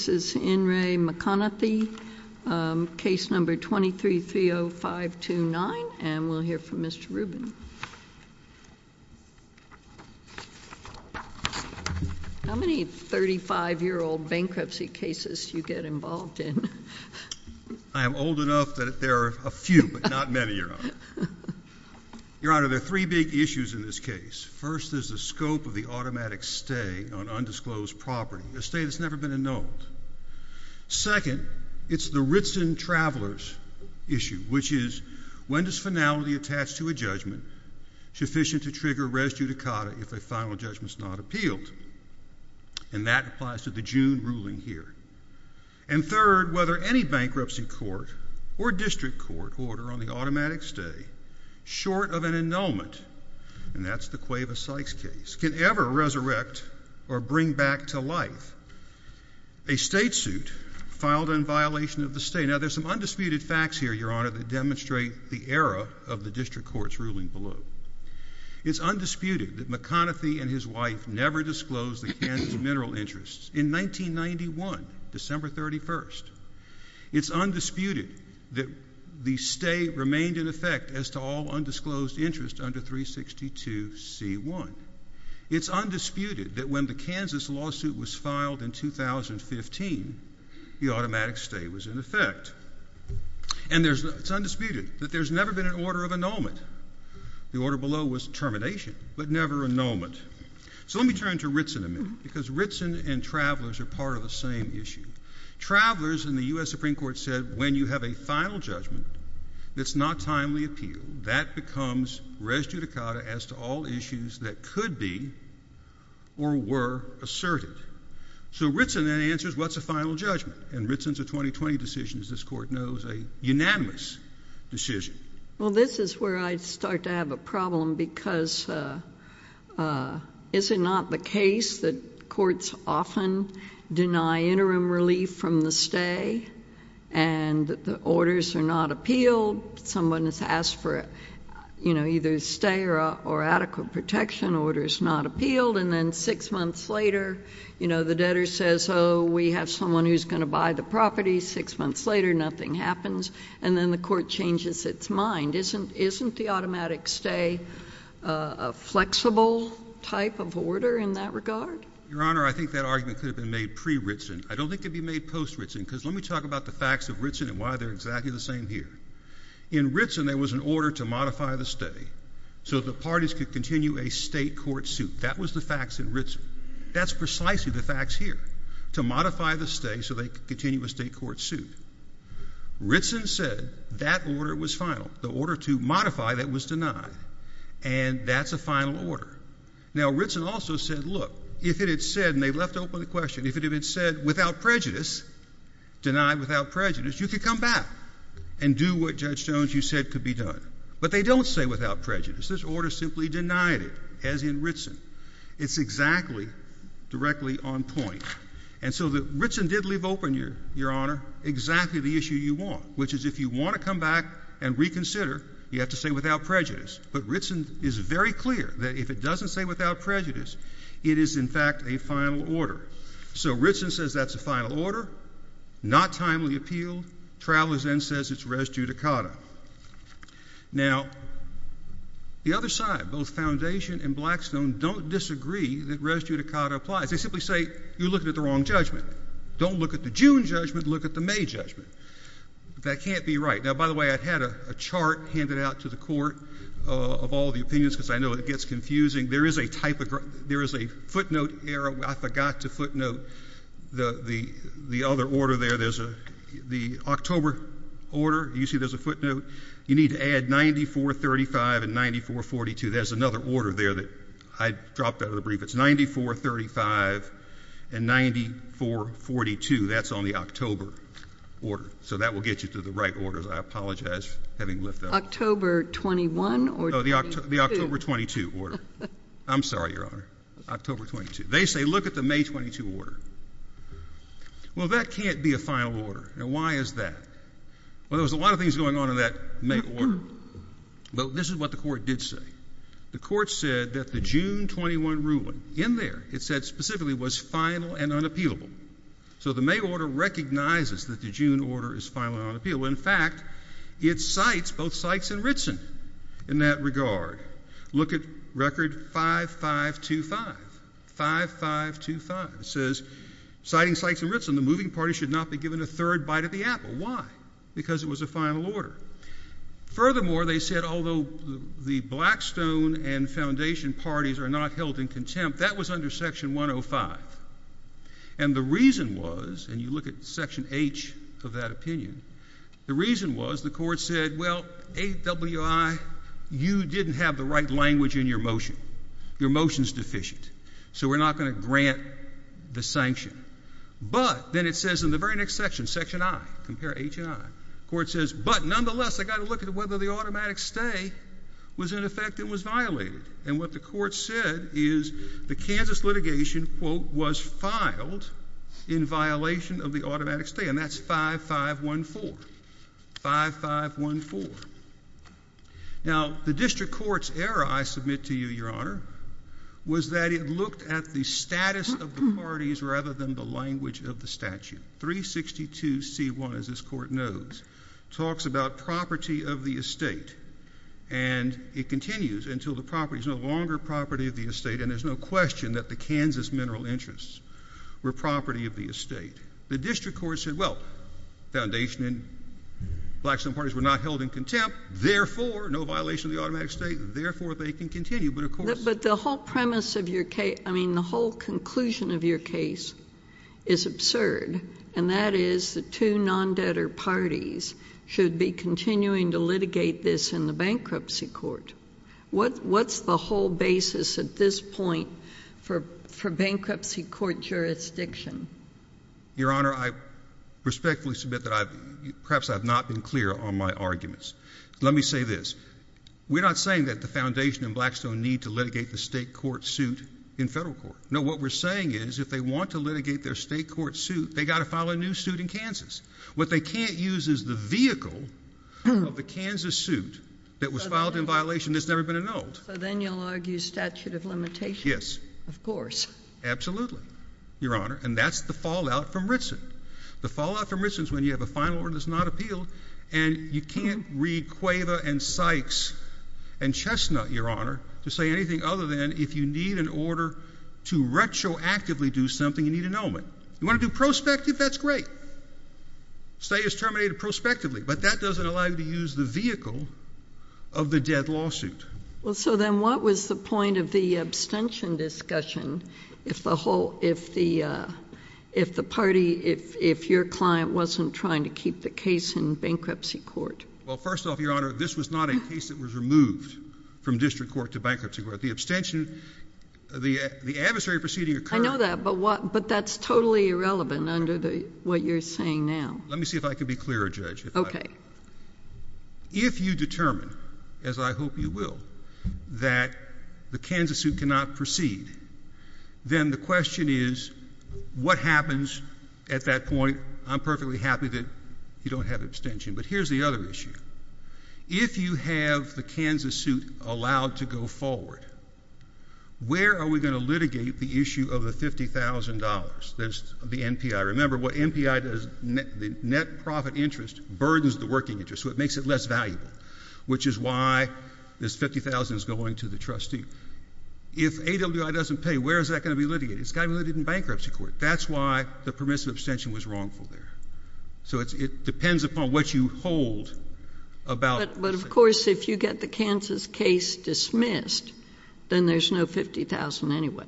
and their families. Case number 23-30529, and we'll hear from Mr. Rubin. How many 35-year-old bankruptcy cases do you get involved in? I am old enough that there are a few, but not many, Your Honor. Your Honor, there are three big issues in this case. First is the scope of the automatic stay on undisclosed property, a stay that's never been annulled. Second, it's the Ritson Travelers issue, which is, when does finality attached to a judgment sufficient to trigger res judicata if a final judgment is not appealed? And that applies to the June ruling here. And third, whether any bankruptcy court or district court order on the automatic stay short of an annulment, and that's the Cueva Sykes case, can ever resurrect or bring back to life a state suit filed in violation of the stay. Now, there's some undisputed facts here, Your Honor, that demonstrate the era of the district court's ruling below. It's undisputed that McConathy and his wife never disclosed the Kansas mineral interests in 1991, December 31st. It's undisputed that the stay remained in effect as to all undisclosed interest under 362C1. It's undisputed that when the Kansas lawsuit was filed in 2015, the automatic stay was in effect. And it's undisputed that there's never been an order of annulment. The order below was termination, but never annulment. So let me turn to Ritson a minute, because Ritson and Travelers are part of the same issue. Travelers, and the U.S. Supreme Court said, when you have a final judgment that's not a timely appeal, that becomes res judicata as to all issues that could be or were asserted. So Ritson then answers, what's a final judgment? And Ritson's a 20-20 decision, as this Court knows, a unanimous decision. Well, this is where I start to have a problem, because is it not the case that courts often deny interim relief from the stay, and the orders are not appealed? Someone has asked for either a stay or adequate protection, order is not appealed, and then six months later, the debtor says, oh, we have someone who's going to buy the property. Six months later, nothing happens. And then the Court changes its mind. Isn't the automatic stay a flexible type of order in that regard? Your Honor, I think that argument could have been made pre-Ritson. I don't think it could be made post-Ritson, because let me talk about the facts of Ritson and why they're exactly the same here. In Ritson, there was an order to modify the stay so the parties could continue a state court suit. That was the facts in Ritson. That's precisely the facts here, to modify the stay so they could continue a state court suit. Ritson said that order was final, the order to modify that was denied, and that's a final order. Now, Ritson also said, look, if it had said, and they left open the question, if it had said without prejudice, denied without prejudice, you could come back and do what Judge Jones you said could be done. But they don't say without prejudice. This order simply denied it, as in Ritson. It's exactly directly on point. And so Ritson did leave open, Your Honor, exactly the issue you want, which is if you want to come back and reconsider, you have to say without prejudice. But Ritson is very clear that if it doesn't say without prejudice, it is, in fact, a final order. So Ritson says that's a final order, not timely appealed, Travelers then says it's res judicata. Now the other side, both Foundation and Blackstone, don't disagree that res judicata applies. They simply say, you're looking at the wrong judgment. Don't look at the June judgment, look at the May judgment. That can't be right. Now, by the way, I had a chart handed out to the court of all the opinions because I know it gets confusing. There is a footnote error. I forgot to footnote the other order there. The October order, you see there's a footnote. You need to add 9435 and 9442. There's another order there that I dropped out of the brief. It's 9435 and 9442. That's on the October order. So that will get you to the right orders. I apologize for having left out. October 21 or 22? No, the October 22 order. I'm sorry, Your Honor. October 22. They say, look at the May 22 order. Well, that can't be a final order. Now, why is that? Well, there was a lot of things going on in that May order, but this is what the court did say. The court said that the June 21 ruling in there, it said specifically was final and unappealable. So the May order recognizes that the June order is final and unappealable. In fact, it cites both Sykes and Ritson in that regard. Look at record 5525. 5525. It says, citing Sykes and Ritson, the moving party should not be given a third bite of the apple. Why? Because it was a final order. Furthermore, they said, although the Blackstone and Foundation parties are not held in contempt, that was under section 105. And the reason was, and you look at section H of that opinion, the reason was the court said, well, AWI, you didn't have the right language in your motion. Your motion's deficient. So we're not going to grant the sanction. But then it says in the very next section, section I, compare H and I, the court says, but nonetheless, I got to look at whether the automatic stay was in effect and was violated. And what the court said is the Kansas litigation, quote, was filed in violation of the automatic stay. And that's 5514. 5514. Now, the district court's error, I submit to you, Your Honor, was that it looked at the status of the parties rather than the language of the statute. 362C1, as this court knows, talks about property of the estate. And it continues until the property is no longer property of the estate. And there's no question that the Kansas mineral interests were property of the estate. The district court said, well, Foundation and Blackstone parties were not held in contempt. Therefore, no violation of the automatic stay. Therefore, they can continue. But of course. But the whole premise of your case, I mean, the whole conclusion of your case is absurd. And that is the two non-debtor parties should be continuing to litigate this in the bankruptcy court. What's the whole basis at this point for bankruptcy court jurisdiction? Your Honor, I respectfully submit that perhaps I have not been clear on my arguments. Let me say this. We're not saying that the Foundation and Blackstone need to litigate the state court suit in federal court. No, what we're saying is, if they want to litigate their state court suit, they got to file a new suit in Kansas. What they can't use is the vehicle of the Kansas suit that was filed in violation that's never been annulled. So then you'll argue statute of limitations? Yes. Of course. Absolutely, Your Honor. And that's the fallout from Ritson. The fallout from Ritson is when you have a final order that's not appealed and you can't read Cueva and Sykes and Chestnut, Your Honor, to say anything other than if you need an annulment. If you want to retroactively do something, you need an annulment. If you want to do prospective, that's great. State is terminated prospectively, but that doesn't allow you to use the vehicle of the dead lawsuit. Well, so then what was the point of the abstention discussion if the party, if your client wasn't trying to keep the case in bankruptcy court? Well, first off, Your Honor, this was not a case that was removed from district court to bankruptcy court. But the abstention, the adversary proceeding occurred. I know that. But what, but that's totally irrelevant under the, what you're saying now. Let me see if I could be clearer, Judge, if I could. Okay. If you determine, as I hope you will, that the Kansas suit cannot proceed, then the question is what happens at that point? I'm perfectly happy that you don't have abstention. But here's the other issue. If you have the Kansas suit allowed to go forward, where are we going to litigate the issue of the $50,000? There's the NPI. Remember, what NPI does, the net profit interest burdens the working interest, so it makes it less valuable, which is why this $50,000 is going to the trustee. If AWI doesn't pay, where is that going to be litigated? It's got to be litigated in bankruptcy court. That's why the permissive abstention was wrongful there. So it depends upon what you hold about... But, of course, if you get the Kansas case dismissed, then there's no $50,000 anyway,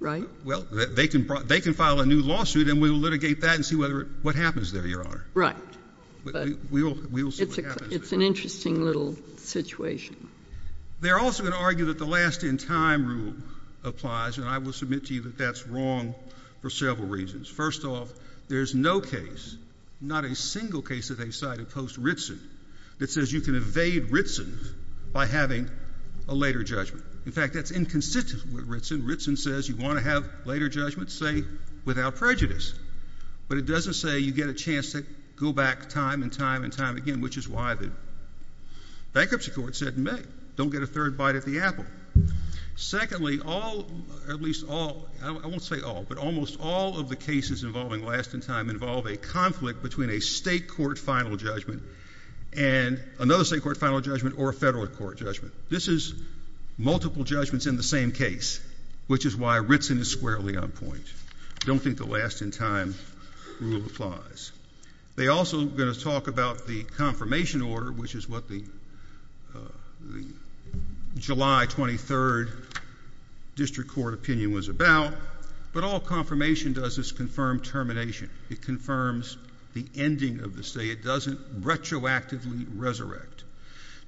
right? Well, they can file a new lawsuit, and we will litigate that and see what happens there, Your Honor. Right. But... We will see what happens. It's an interesting little situation. They're also going to argue that the last in time rule applies, and I will submit to you that that's wrong for several reasons. First off, there's no case, not a single case that they've cited post-Ritson, that says you can evade Ritson by having a later judgment. In fact, that's inconsistent with Ritson. Ritson says you want to have later judgments, say, without prejudice. But it doesn't say you get a chance to go back time and time and time again, which is why the bankruptcy court said, meh, don't get a third bite at the apple. Secondly, all, at least all, I won't say all, but almost all of the cases involving last in time involve a conflict between a state court final judgment and another state court final judgment or a federal court judgment. This is multiple judgments in the same case, which is why Ritson is squarely on point. Don't think the last in time rule applies. They also are going to talk about the confirmation order, which is what the July 23rd district court opinion was about, but all confirmation does is confirm termination. It confirms the ending of the state. It doesn't retroactively resurrect.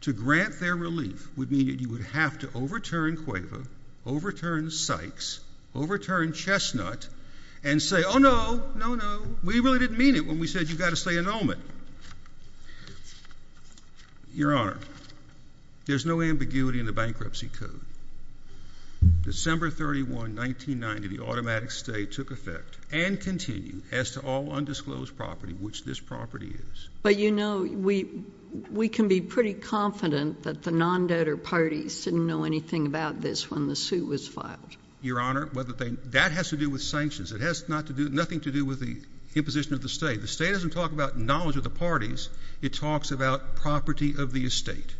To grant their relief would mean that you would have to overturn CUEVA, overturn Sykes, overturn Chestnut, and say, oh, no, no, no. We really didn't mean it when we said you've got to say annulment. Your Honor, there's no ambiguity in the bankruptcy code. December 31, 1990, the automatic stay took effect and continue as to all undisclosed property, which this property is. But you know, we can be pretty confident that the non-debtor parties didn't know anything about this when the suit was filed. Your Honor, that has to do with sanctions. It has nothing to do with the imposition of the stay. The stay doesn't talk about knowledge of the parties. It talks about property of the estate.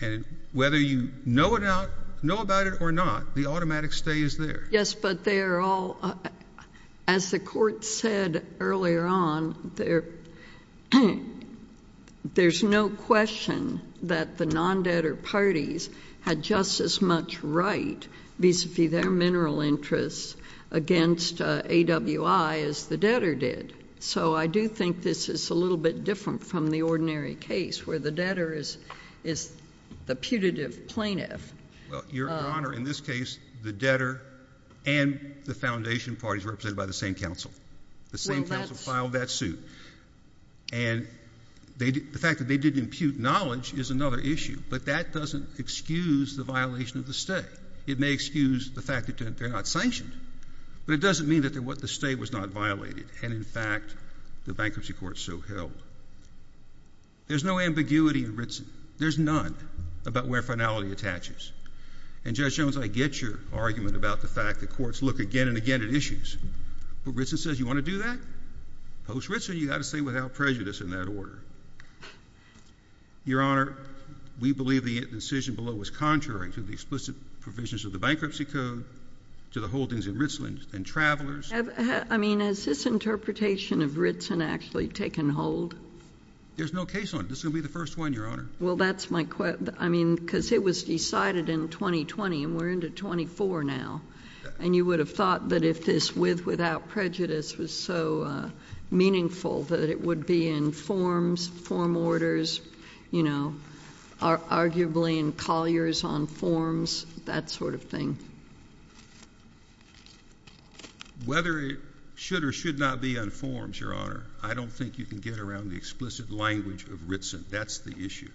And whether you know about it or not, the automatic stay is there. Yes, but they are all, as the court said earlier on, there's no question that the non-debtor refused AWI as the debtor did. So I do think this is a little bit different from the ordinary case where the debtor is the putative plaintiff. Well, Your Honor, in this case, the debtor and the foundation parties represented by the same counsel. The same counsel filed that suit. And the fact that they didn't impute knowledge is another issue. But that doesn't excuse the violation of the stay. It may excuse the fact that they're not sanctioned, but it doesn't mean that the stay was not violated and, in fact, the bankruptcy court so held. There's no ambiguity in Ritson. There's none about where finality attaches. And Judge Jones, I get your argument about the fact that courts look again and again at issues. But Ritson says you want to do that? Post-Ritson, you've got to say without prejudice in that order. Your Honor, we believe the incision below was contrary to the explicit provisions of the Bankruptcy Code, to the holdings in Ritson, and Travelers... I mean, has this interpretation of Ritson actually taken hold? There's no case on it. This is going to be the first one, Your Honor. Well, that's my question. I mean, because it was decided in 2020, and we're into 2024 now. And you would have thought that if this with without prejudice was so meaningful that it would be in forms, form orders, you know, arguably in colliers on forms, that sort of thing. Whether it should or should not be on forms, Your Honor, I don't think you can get around the explicit language of Ritson. That's the issue.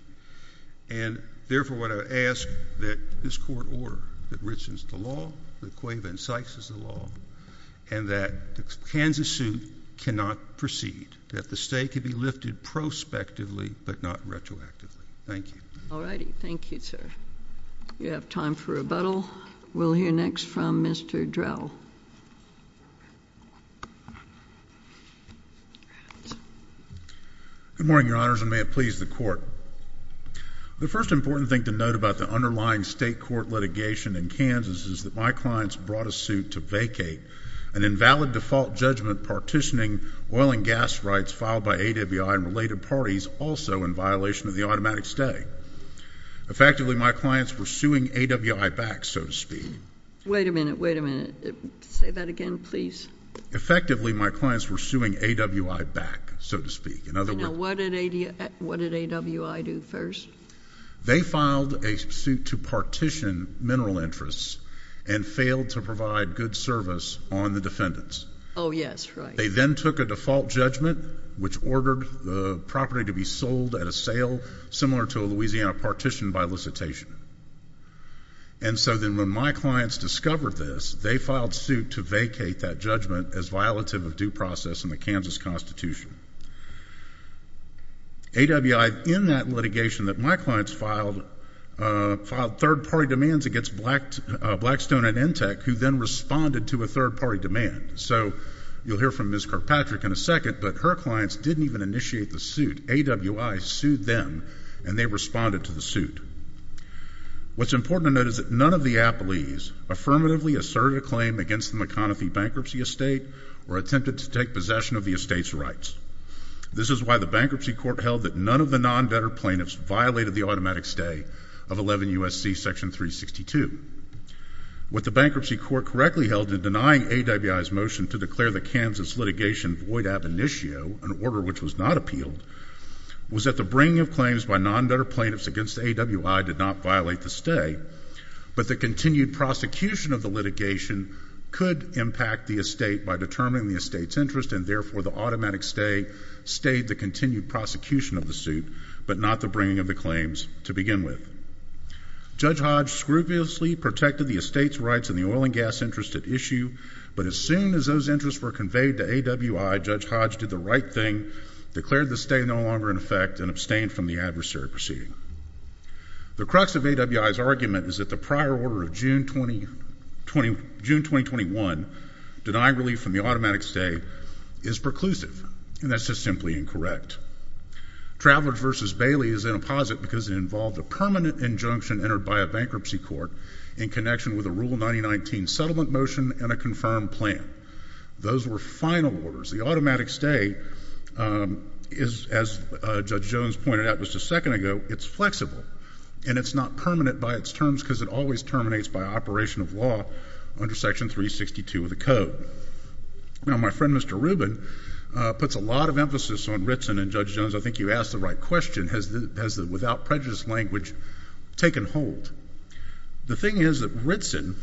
And therefore, what I would ask that this Court order that Ritson is the law, that Cueva not proceed, that the state could be lifted prospectively but not retroactively. Thank you. All righty. Thank you, sir. We have time for rebuttal. We'll hear next from Mr. Drell. Good morning, Your Honors, and may it please the Court. The first important thing to note about the underlying state court litigation in Kansas is that my clients brought a suit to vacate an invalid default judgment partitioning oil and gas rights filed by AWI and related parties also in violation of the automatic stay. Effectively, my clients were suing AWI back, so to speak. Wait a minute. Wait a minute. Say that again, please. Effectively, my clients were suing AWI back, so to speak. In other words... Now, what did AWI do first? They filed a suit to partition mineral interests and failed to provide good service on the defendants. Oh, yes. Right. They then took a default judgment, which ordered the property to be sold at a sale similar to a Louisiana partition by elicitation. And so then when my clients discovered this, they filed suit to vacate that judgment as violative of due process in the Kansas Constitution. AWI, in that litigation that my clients filed, filed third-party demands against Blackstone and ENTEC, who then responded to a third-party demand. So you'll hear from Ms. Kirkpatrick in a second, but her clients didn't even initiate the suit. AWI sued them, and they responded to the suit. What's important to note is that none of the appellees affirmatively asserted a claim against the McConafee bankruptcy estate or attempted to take possession of the estate's rights. This is why the Bankruptcy Court held that none of the non-debtor plaintiffs violated the automatic stay of 11 U.S.C. section 362. What the Bankruptcy Court correctly held in denying AWI's motion to declare the Kansas litigation void ab initio, an order which was not appealed, was that the bringing of claims by non-debtor plaintiffs against AWI did not violate the stay, but the continued prosecution of the litigation could impact the estate by determining the estate's interest, and therefore the automatic stay stayed the continued prosecution of the suit, but not the bringing of the claims to begin with. Judge Hodge scrupulously protected the estate's rights and the oil and gas interests at issue, but as soon as those interests were conveyed to AWI, Judge Hodge did the right thing, declared the stay no longer in effect, and abstained from the adversary proceeding. The crux of AWI's argument is that the prior order of June 2021, denying relief from the automatic stay, is preclusive, and that's just simply incorrect. Travelers v. Bailey is in a posit because it involved a permanent injunction entered by a Bankruptcy Court in connection with a Rule 9019 settlement motion and a confirmed plan. Those were final orders. The automatic stay is, as Judge Jones pointed out just a second ago, it's flexible, and it's not permanent by its terms because it always terminates by operation of law under Section 362 of the Code. Now, my friend Mr. Rubin puts a lot of emphasis on Ritson, and Judge Jones, I think you asked the right question, has the without prejudice language taken hold? The thing is that Ritson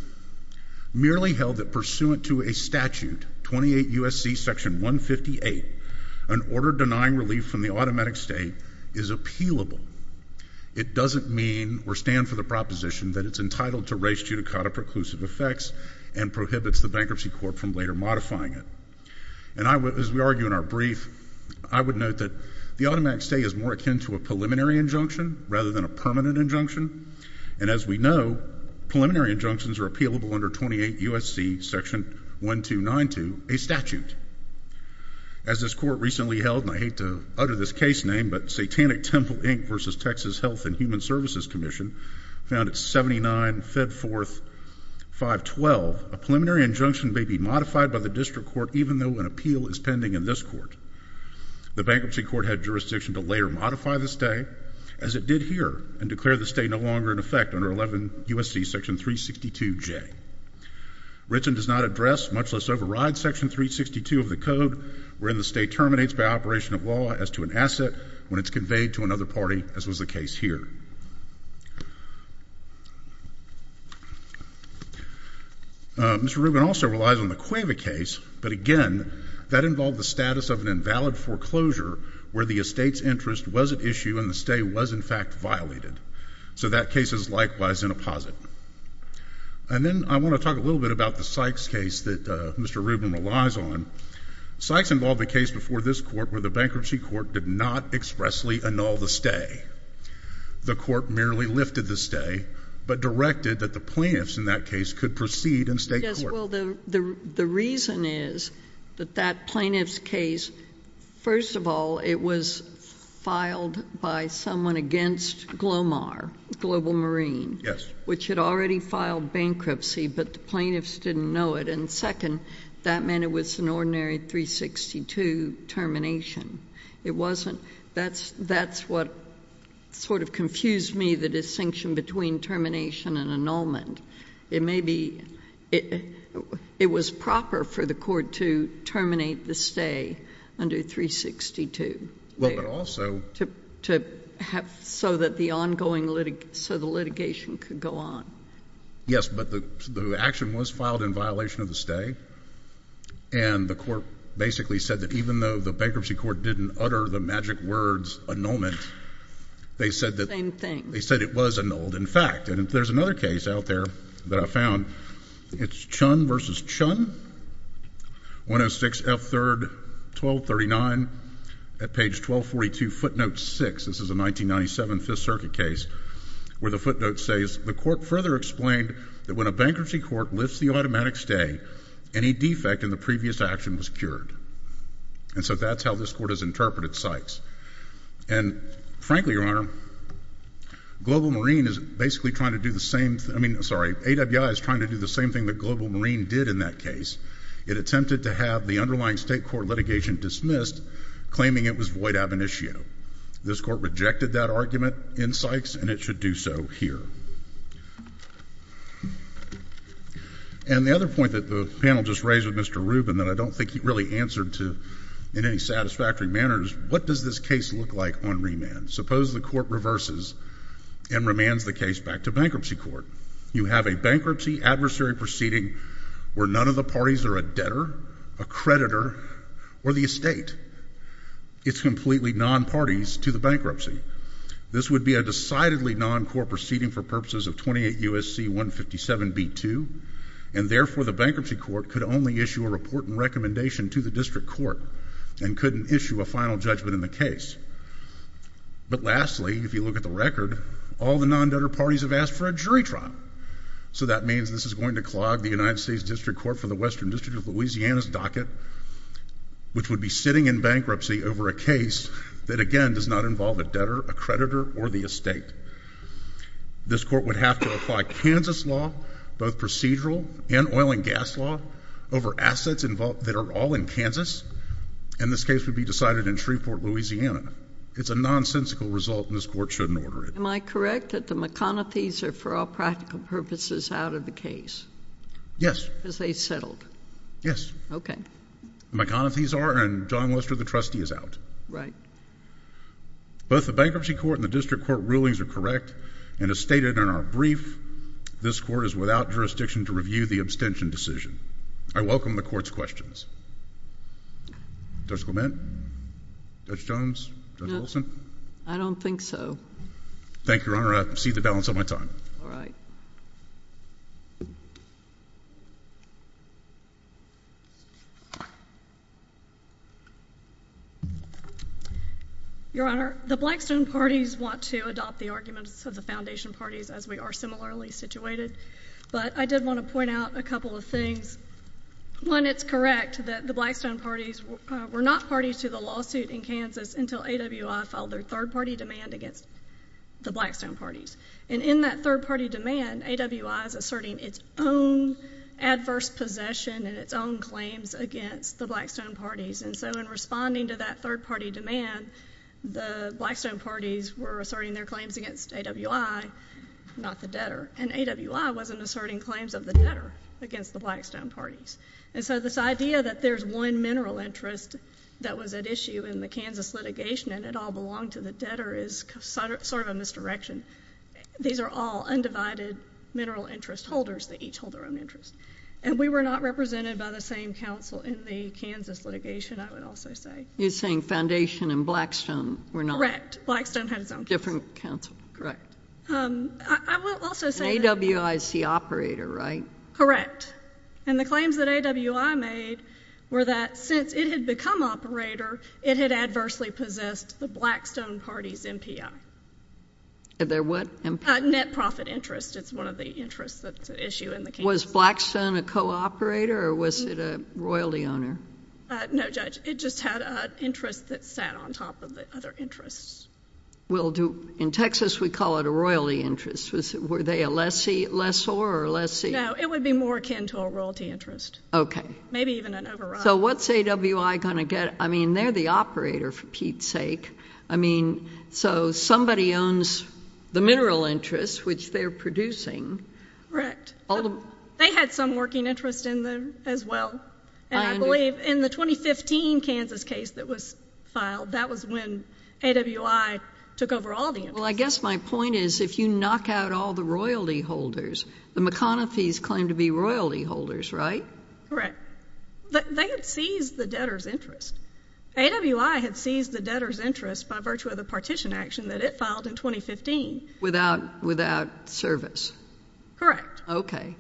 merely held that pursuant to a statute, 28 U.S.C. Section 158, an order denying relief from the automatic stay is appealable. It doesn't mean or stand for the proposition that it's entitled to raise judicata preclusive effects and prohibits the Bankruptcy Court from later modifying it. And as we argue in our brief, I would note that the automatic stay is more akin to a And as we know, preliminary injunctions are appealable under 28 U.S.C. Section 1292, a statute. As this Court recently held, and I hate to utter this case name, but Satanic Temple, Inc. versus Texas Health and Human Services Commission found at 79 Fed Fourth 512, a preliminary injunction may be modified by the District Court even though an appeal is pending in this Court. The Bankruptcy Court had jurisdiction to later modify the stay as it did here and declare the stay no longer in effect under 11 U.S.C. Section 362J. Ritson does not address, much less override, Section 362 of the Code wherein the stay terminates by operation of law as to an asset when it's conveyed to another party as was the case here. Mr. Rubin also relies on the Cueva case, but again, that involved the status of an invalid foreclosure where the estate's interest was at issue and the stay was, in fact, violated. So that case is likewise in a posit. And then I want to talk a little bit about the Sykes case that Mr. Rubin relies on. Sykes involved a case before this Court where the Bankruptcy Court did not expressly annul the stay. The Court merely lifted the stay, but directed that the plaintiffs in that case could proceed in state court. Yes. Well, the reason is that that plaintiff's case, first of all, it was filed by someone against GLOMAR, Global Marine, which had already filed bankruptcy, but the plaintiffs didn't know it. And second, that meant it was an ordinary 362 termination. It wasn't. That's what sort of confused me, the distinction between termination and annulment. It may be — it was proper for the Court to terminate the stay under 362, so that the ongoing litigation could go on. Yes, but the action was filed in violation of the stay, and the Court basically said that even though the Bankruptcy Court didn't utter the magic words annulment, they said that — Same thing. They said it was annulled. In fact, and there's another case out there that I found, it's Chun v. Chun, 106F3-1239, at page 1242, footnote 6 — this is a 1997 Fifth Circuit case — where the footnote says, The Court further explained that when a Bankruptcy Court lifts the automatic stay, any defect in the previous action was cured. And so that's how this Court has interpreted Sykes. And frankly, Your Honor, Global Marine is basically trying to do the same — I mean, sorry, AWI is trying to do the same thing that Global Marine did in that case. It attempted to have the underlying state court litigation dismissed, claiming it was void ab initio. This Court rejected that argument in Sykes, and it should do so here. And the other point that the panel just raised with Mr. Rubin that I don't think he really answered in any satisfactory manner is, what does this case look like on remand? Suppose the Court reverses and remands the case back to Bankruptcy Court. You have a bankruptcy adversary proceeding where none of the parties are a debtor, a creditor, or the estate. It's completely non-parties to the bankruptcy. This would be a decidedly non-court proceeding for purposes of 28 U.S.C. 157b2, and therefore the Bankruptcy Court could only issue a report and recommendation to the District Court and couldn't issue a final judgment in the case. But lastly, if you look at the record, all the non-debtor parties have asked for a jury trial. So that means this is going to clog the United States District Court for the Western District of Louisiana's docket, which would be sitting in bankruptcy over a case that, again, does not involve a debtor, a creditor, or the estate. This Court would have to apply Kansas law, both procedural and oil and gas law, over assets that are all in Kansas, and this case would be decided in Shreveport, Louisiana. It's a nonsensical result, and this Court shouldn't order it. Am I correct that the McConathys are, for all practical purposes, out of the case? Yes. Because they settled? Yes. Okay. The McConathys are, and John Lester, the trustee, is out. Right. Both the Bankruptcy Court and the District Court rulings are correct, and as stated in our brief, this Court is without jurisdiction to review the abstention decision. I welcome the Court's questions. Judge Clement? Judge Jones? Judge Wilson? No. I don't think so. Thank you, Your Honor. I cede the balance of my time. All right. Your Honor, the Blackstone Parties want to adopt the arguments of the Foundation Parties as we are similarly situated, but I did want to point out a couple of things. One, it's correct that the Blackstone Parties were not parties to the lawsuit in Kansas until AWI filed their third-party demand against the Blackstone Parties, and in that third-party demand, AWI is asserting its own adverse possession and its own claims against the Blackstone Parties. And so in responding to that third-party demand, the Blackstone Parties were asserting their claims against AWI, not the debtor, and AWI wasn't asserting claims of the debtor against the Blackstone Parties. And so this idea that there's one mineral interest that was at issue in the Kansas litigation and it all belonged to the debtor is sort of a misdirection. These are all undivided mineral interest holders that each hold their own interest. And we were not represented by the same counsel in the Kansas litigation, I would also say. You're saying Foundation and Blackstone were not? Correct. Blackstone had its own counsel. Different counsel. Correct. I will also say that— And AWI is the operator, right? Correct. And the claims that AWI made were that since it had become operator, it had adversely possessed the Blackstone Party's MPI. Their what MPI? Net profit interest. It's one of the interests that's at issue in the Kansas litigation. Was Blackstone a co-operator or was it a royalty owner? No, Judge. It just had an interest that sat on top of the other interests. Well, in Texas, we call it a royalty interest. Were they a lessor or a lessee? No, it would be more akin to a royalty interest. Okay. Maybe even an override. So what's AWI going to get? I mean, they're the operator, for Pete's sake. I mean, so somebody owns the mineral interests, which they're producing. Correct. They had some working interest in them as well. And I believe in the 2015 Kansas case that was filed, that was when AWI took over all the interests. Well, I guess my point is if you knock out all the royalty holders, the McConafees claim to be royalty holders, right? Correct. They had seized the debtor's interest. AWI had seized the debtor's interest by virtue of the partition action that it filed in 2015. Without service. Correct. Okay.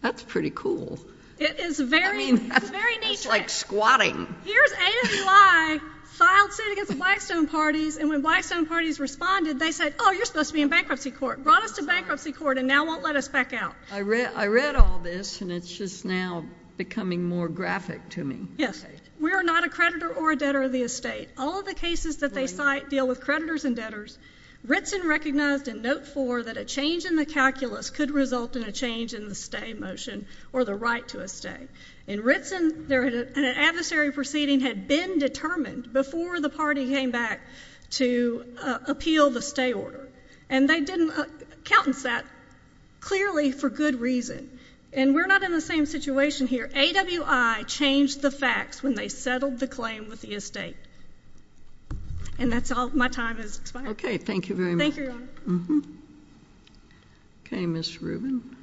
That's pretty cool. It is very neat. It's like squatting. Here's AWI filed suit against Blackstone Parties, and when Blackstone Parties responded, they said, oh, you're supposed to be in bankruptcy court, brought us to bankruptcy court, and now won't let us back out. I read all this, and it's just now becoming more graphic to me. Yes. We are not a creditor or a debtor of the estate. All of the cases that they cite deal with creditors and debtors. Ritson recognized in Note 4 that a change in the calculus could result in a change in the stay motion or the right to a stay. In Ritson, an adversary proceeding had been determined before the party came back to appeal the stay order, and they didn't account for that clearly for good reason. And we're not in the same situation here. AWI changed the facts when they settled the claim with the estate. And that's all. My time has expired. Okay. Thank you very much. Thank you, Your Honor. Okay, Ms. Rubin.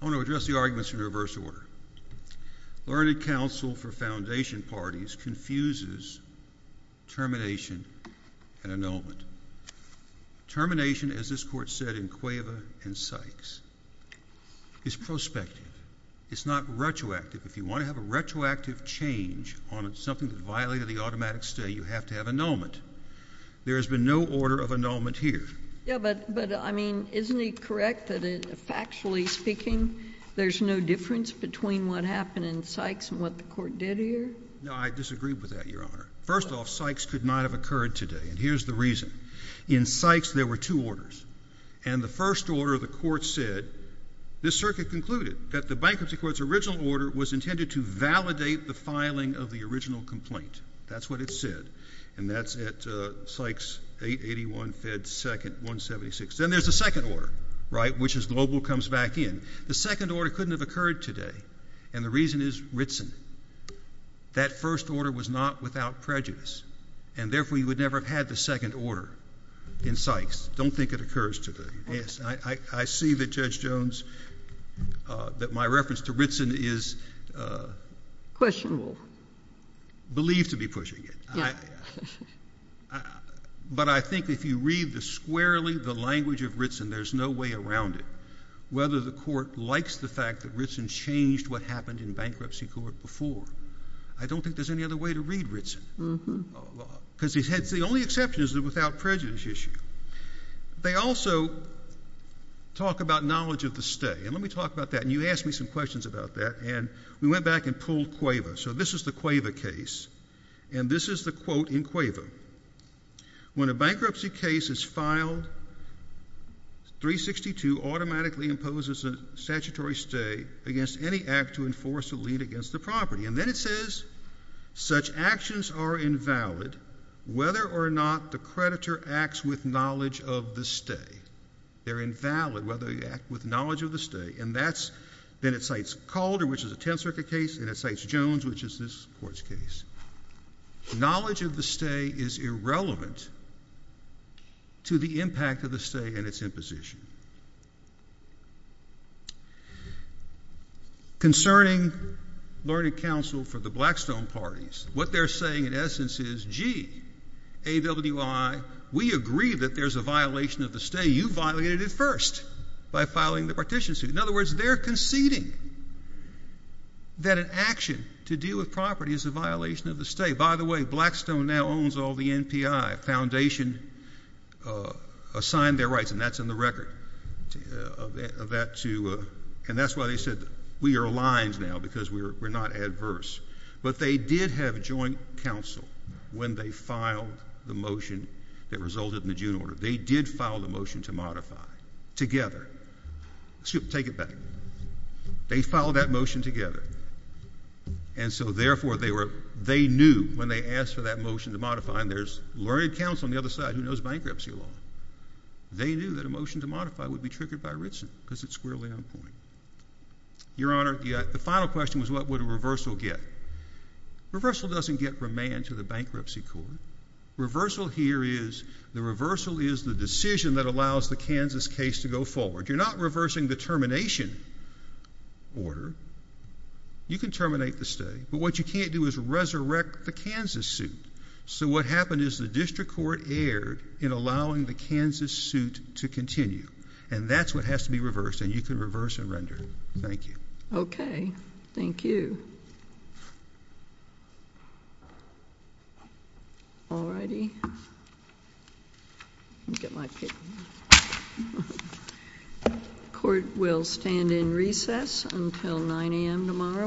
I want to address the arguments in reverse order. Learned Counsel for Foundation Parties confuses termination and annulment. Termination, as this Court said in Cueva and Sykes, is prospective. It's not retroactive. If you want to have a retroactive change on something that violated the automatic stay, you have to have annulment. There has been no order of annulment here. Yeah, but, I mean, isn't it correct that, factually speaking, there's no difference between what happened in Sykes and what the Court did here? No, I disagree with that, Your Honor. First off, Sykes could not have occurred today. And here's the reason. In Sykes, there were two orders. And the first order, the Court said, this circuit concluded, that the bankruptcy court's original order was intended to validate the filing of the original complaint. That's what it said. And that's at Sykes 881, Fed 2nd, 176. Then there's a second order, right, which is global, comes back in. The second order couldn't have occurred today. And the reason is Ritson. That first order was not without prejudice. And, therefore, you would never have had the second order in Sykes. Don't think it occurs today. Yes, I see that, Judge Jones, that my reference to Ritson is... Questionable.... believed to be pushing it. But I think if you read the squarely, the language of Ritson, there's no way around it. Whether the Court likes the fact that Ritson changed what happened in bankruptcy court before, I don't think there's any other way to read Ritson. Because the only exception is the without prejudice issue. They also talk about knowledge of the stay. And let me talk about that. And you asked me some questions about that. And we went back and pulled Cueva. So this is the Cueva case. And this is the quote in Cueva. When a bankruptcy case is filed, 362 automatically imposes a statutory stay against any act to enforce a lien against the property. And then it says, such actions are invalid whether or not the creditor acts with knowledge of the stay. They're invalid whether they act with knowledge of the stay. And that's... then it cites Calder, which is a Tenth Circuit case, and it cites Jones, which is this Court's case. Knowledge of the stay is irrelevant to the impact of the stay and its imposition. Concerning learning counsel for the Blackstone parties, what they're saying in essence is, gee, AWI, we agree that there's a violation of the stay. You violated it first by filing the partition suit. In other words, they're conceding that an action to deal with property is a violation of the stay. By the way, Blackstone now owns all the NPI. Foundation assigned their rights, and that's in the record of that, too. And that's why they said, we are aligned now because we're not adverse. But they did have joint counsel when they filed the motion that resulted in the June order. They did file the motion to modify together. Take it back. They filed that motion together. And so, therefore, they knew when they asked for that motion to modify, and there's learned counsel on the other side who knows bankruptcy law. They knew that a motion to modify would be triggered by Ritson because it's squarely on point. Your Honor, the final question was, what would a reversal get? Reversal doesn't get remand to the bankruptcy court. Reversal here is, the reversal is the decision that allows the Kansas case to go forward. You're not reversing the termination order. You can terminate the stay. But what you can't do is resurrect the Kansas suit. So what happened is the district court erred in allowing the Kansas suit to continue. And that's what has to be reversed, and you can reverse and render. Thank you. Okay. Thank you. All righty. Let me get my paper. Court will stand in recess until 9 a.m. tomorrow morning.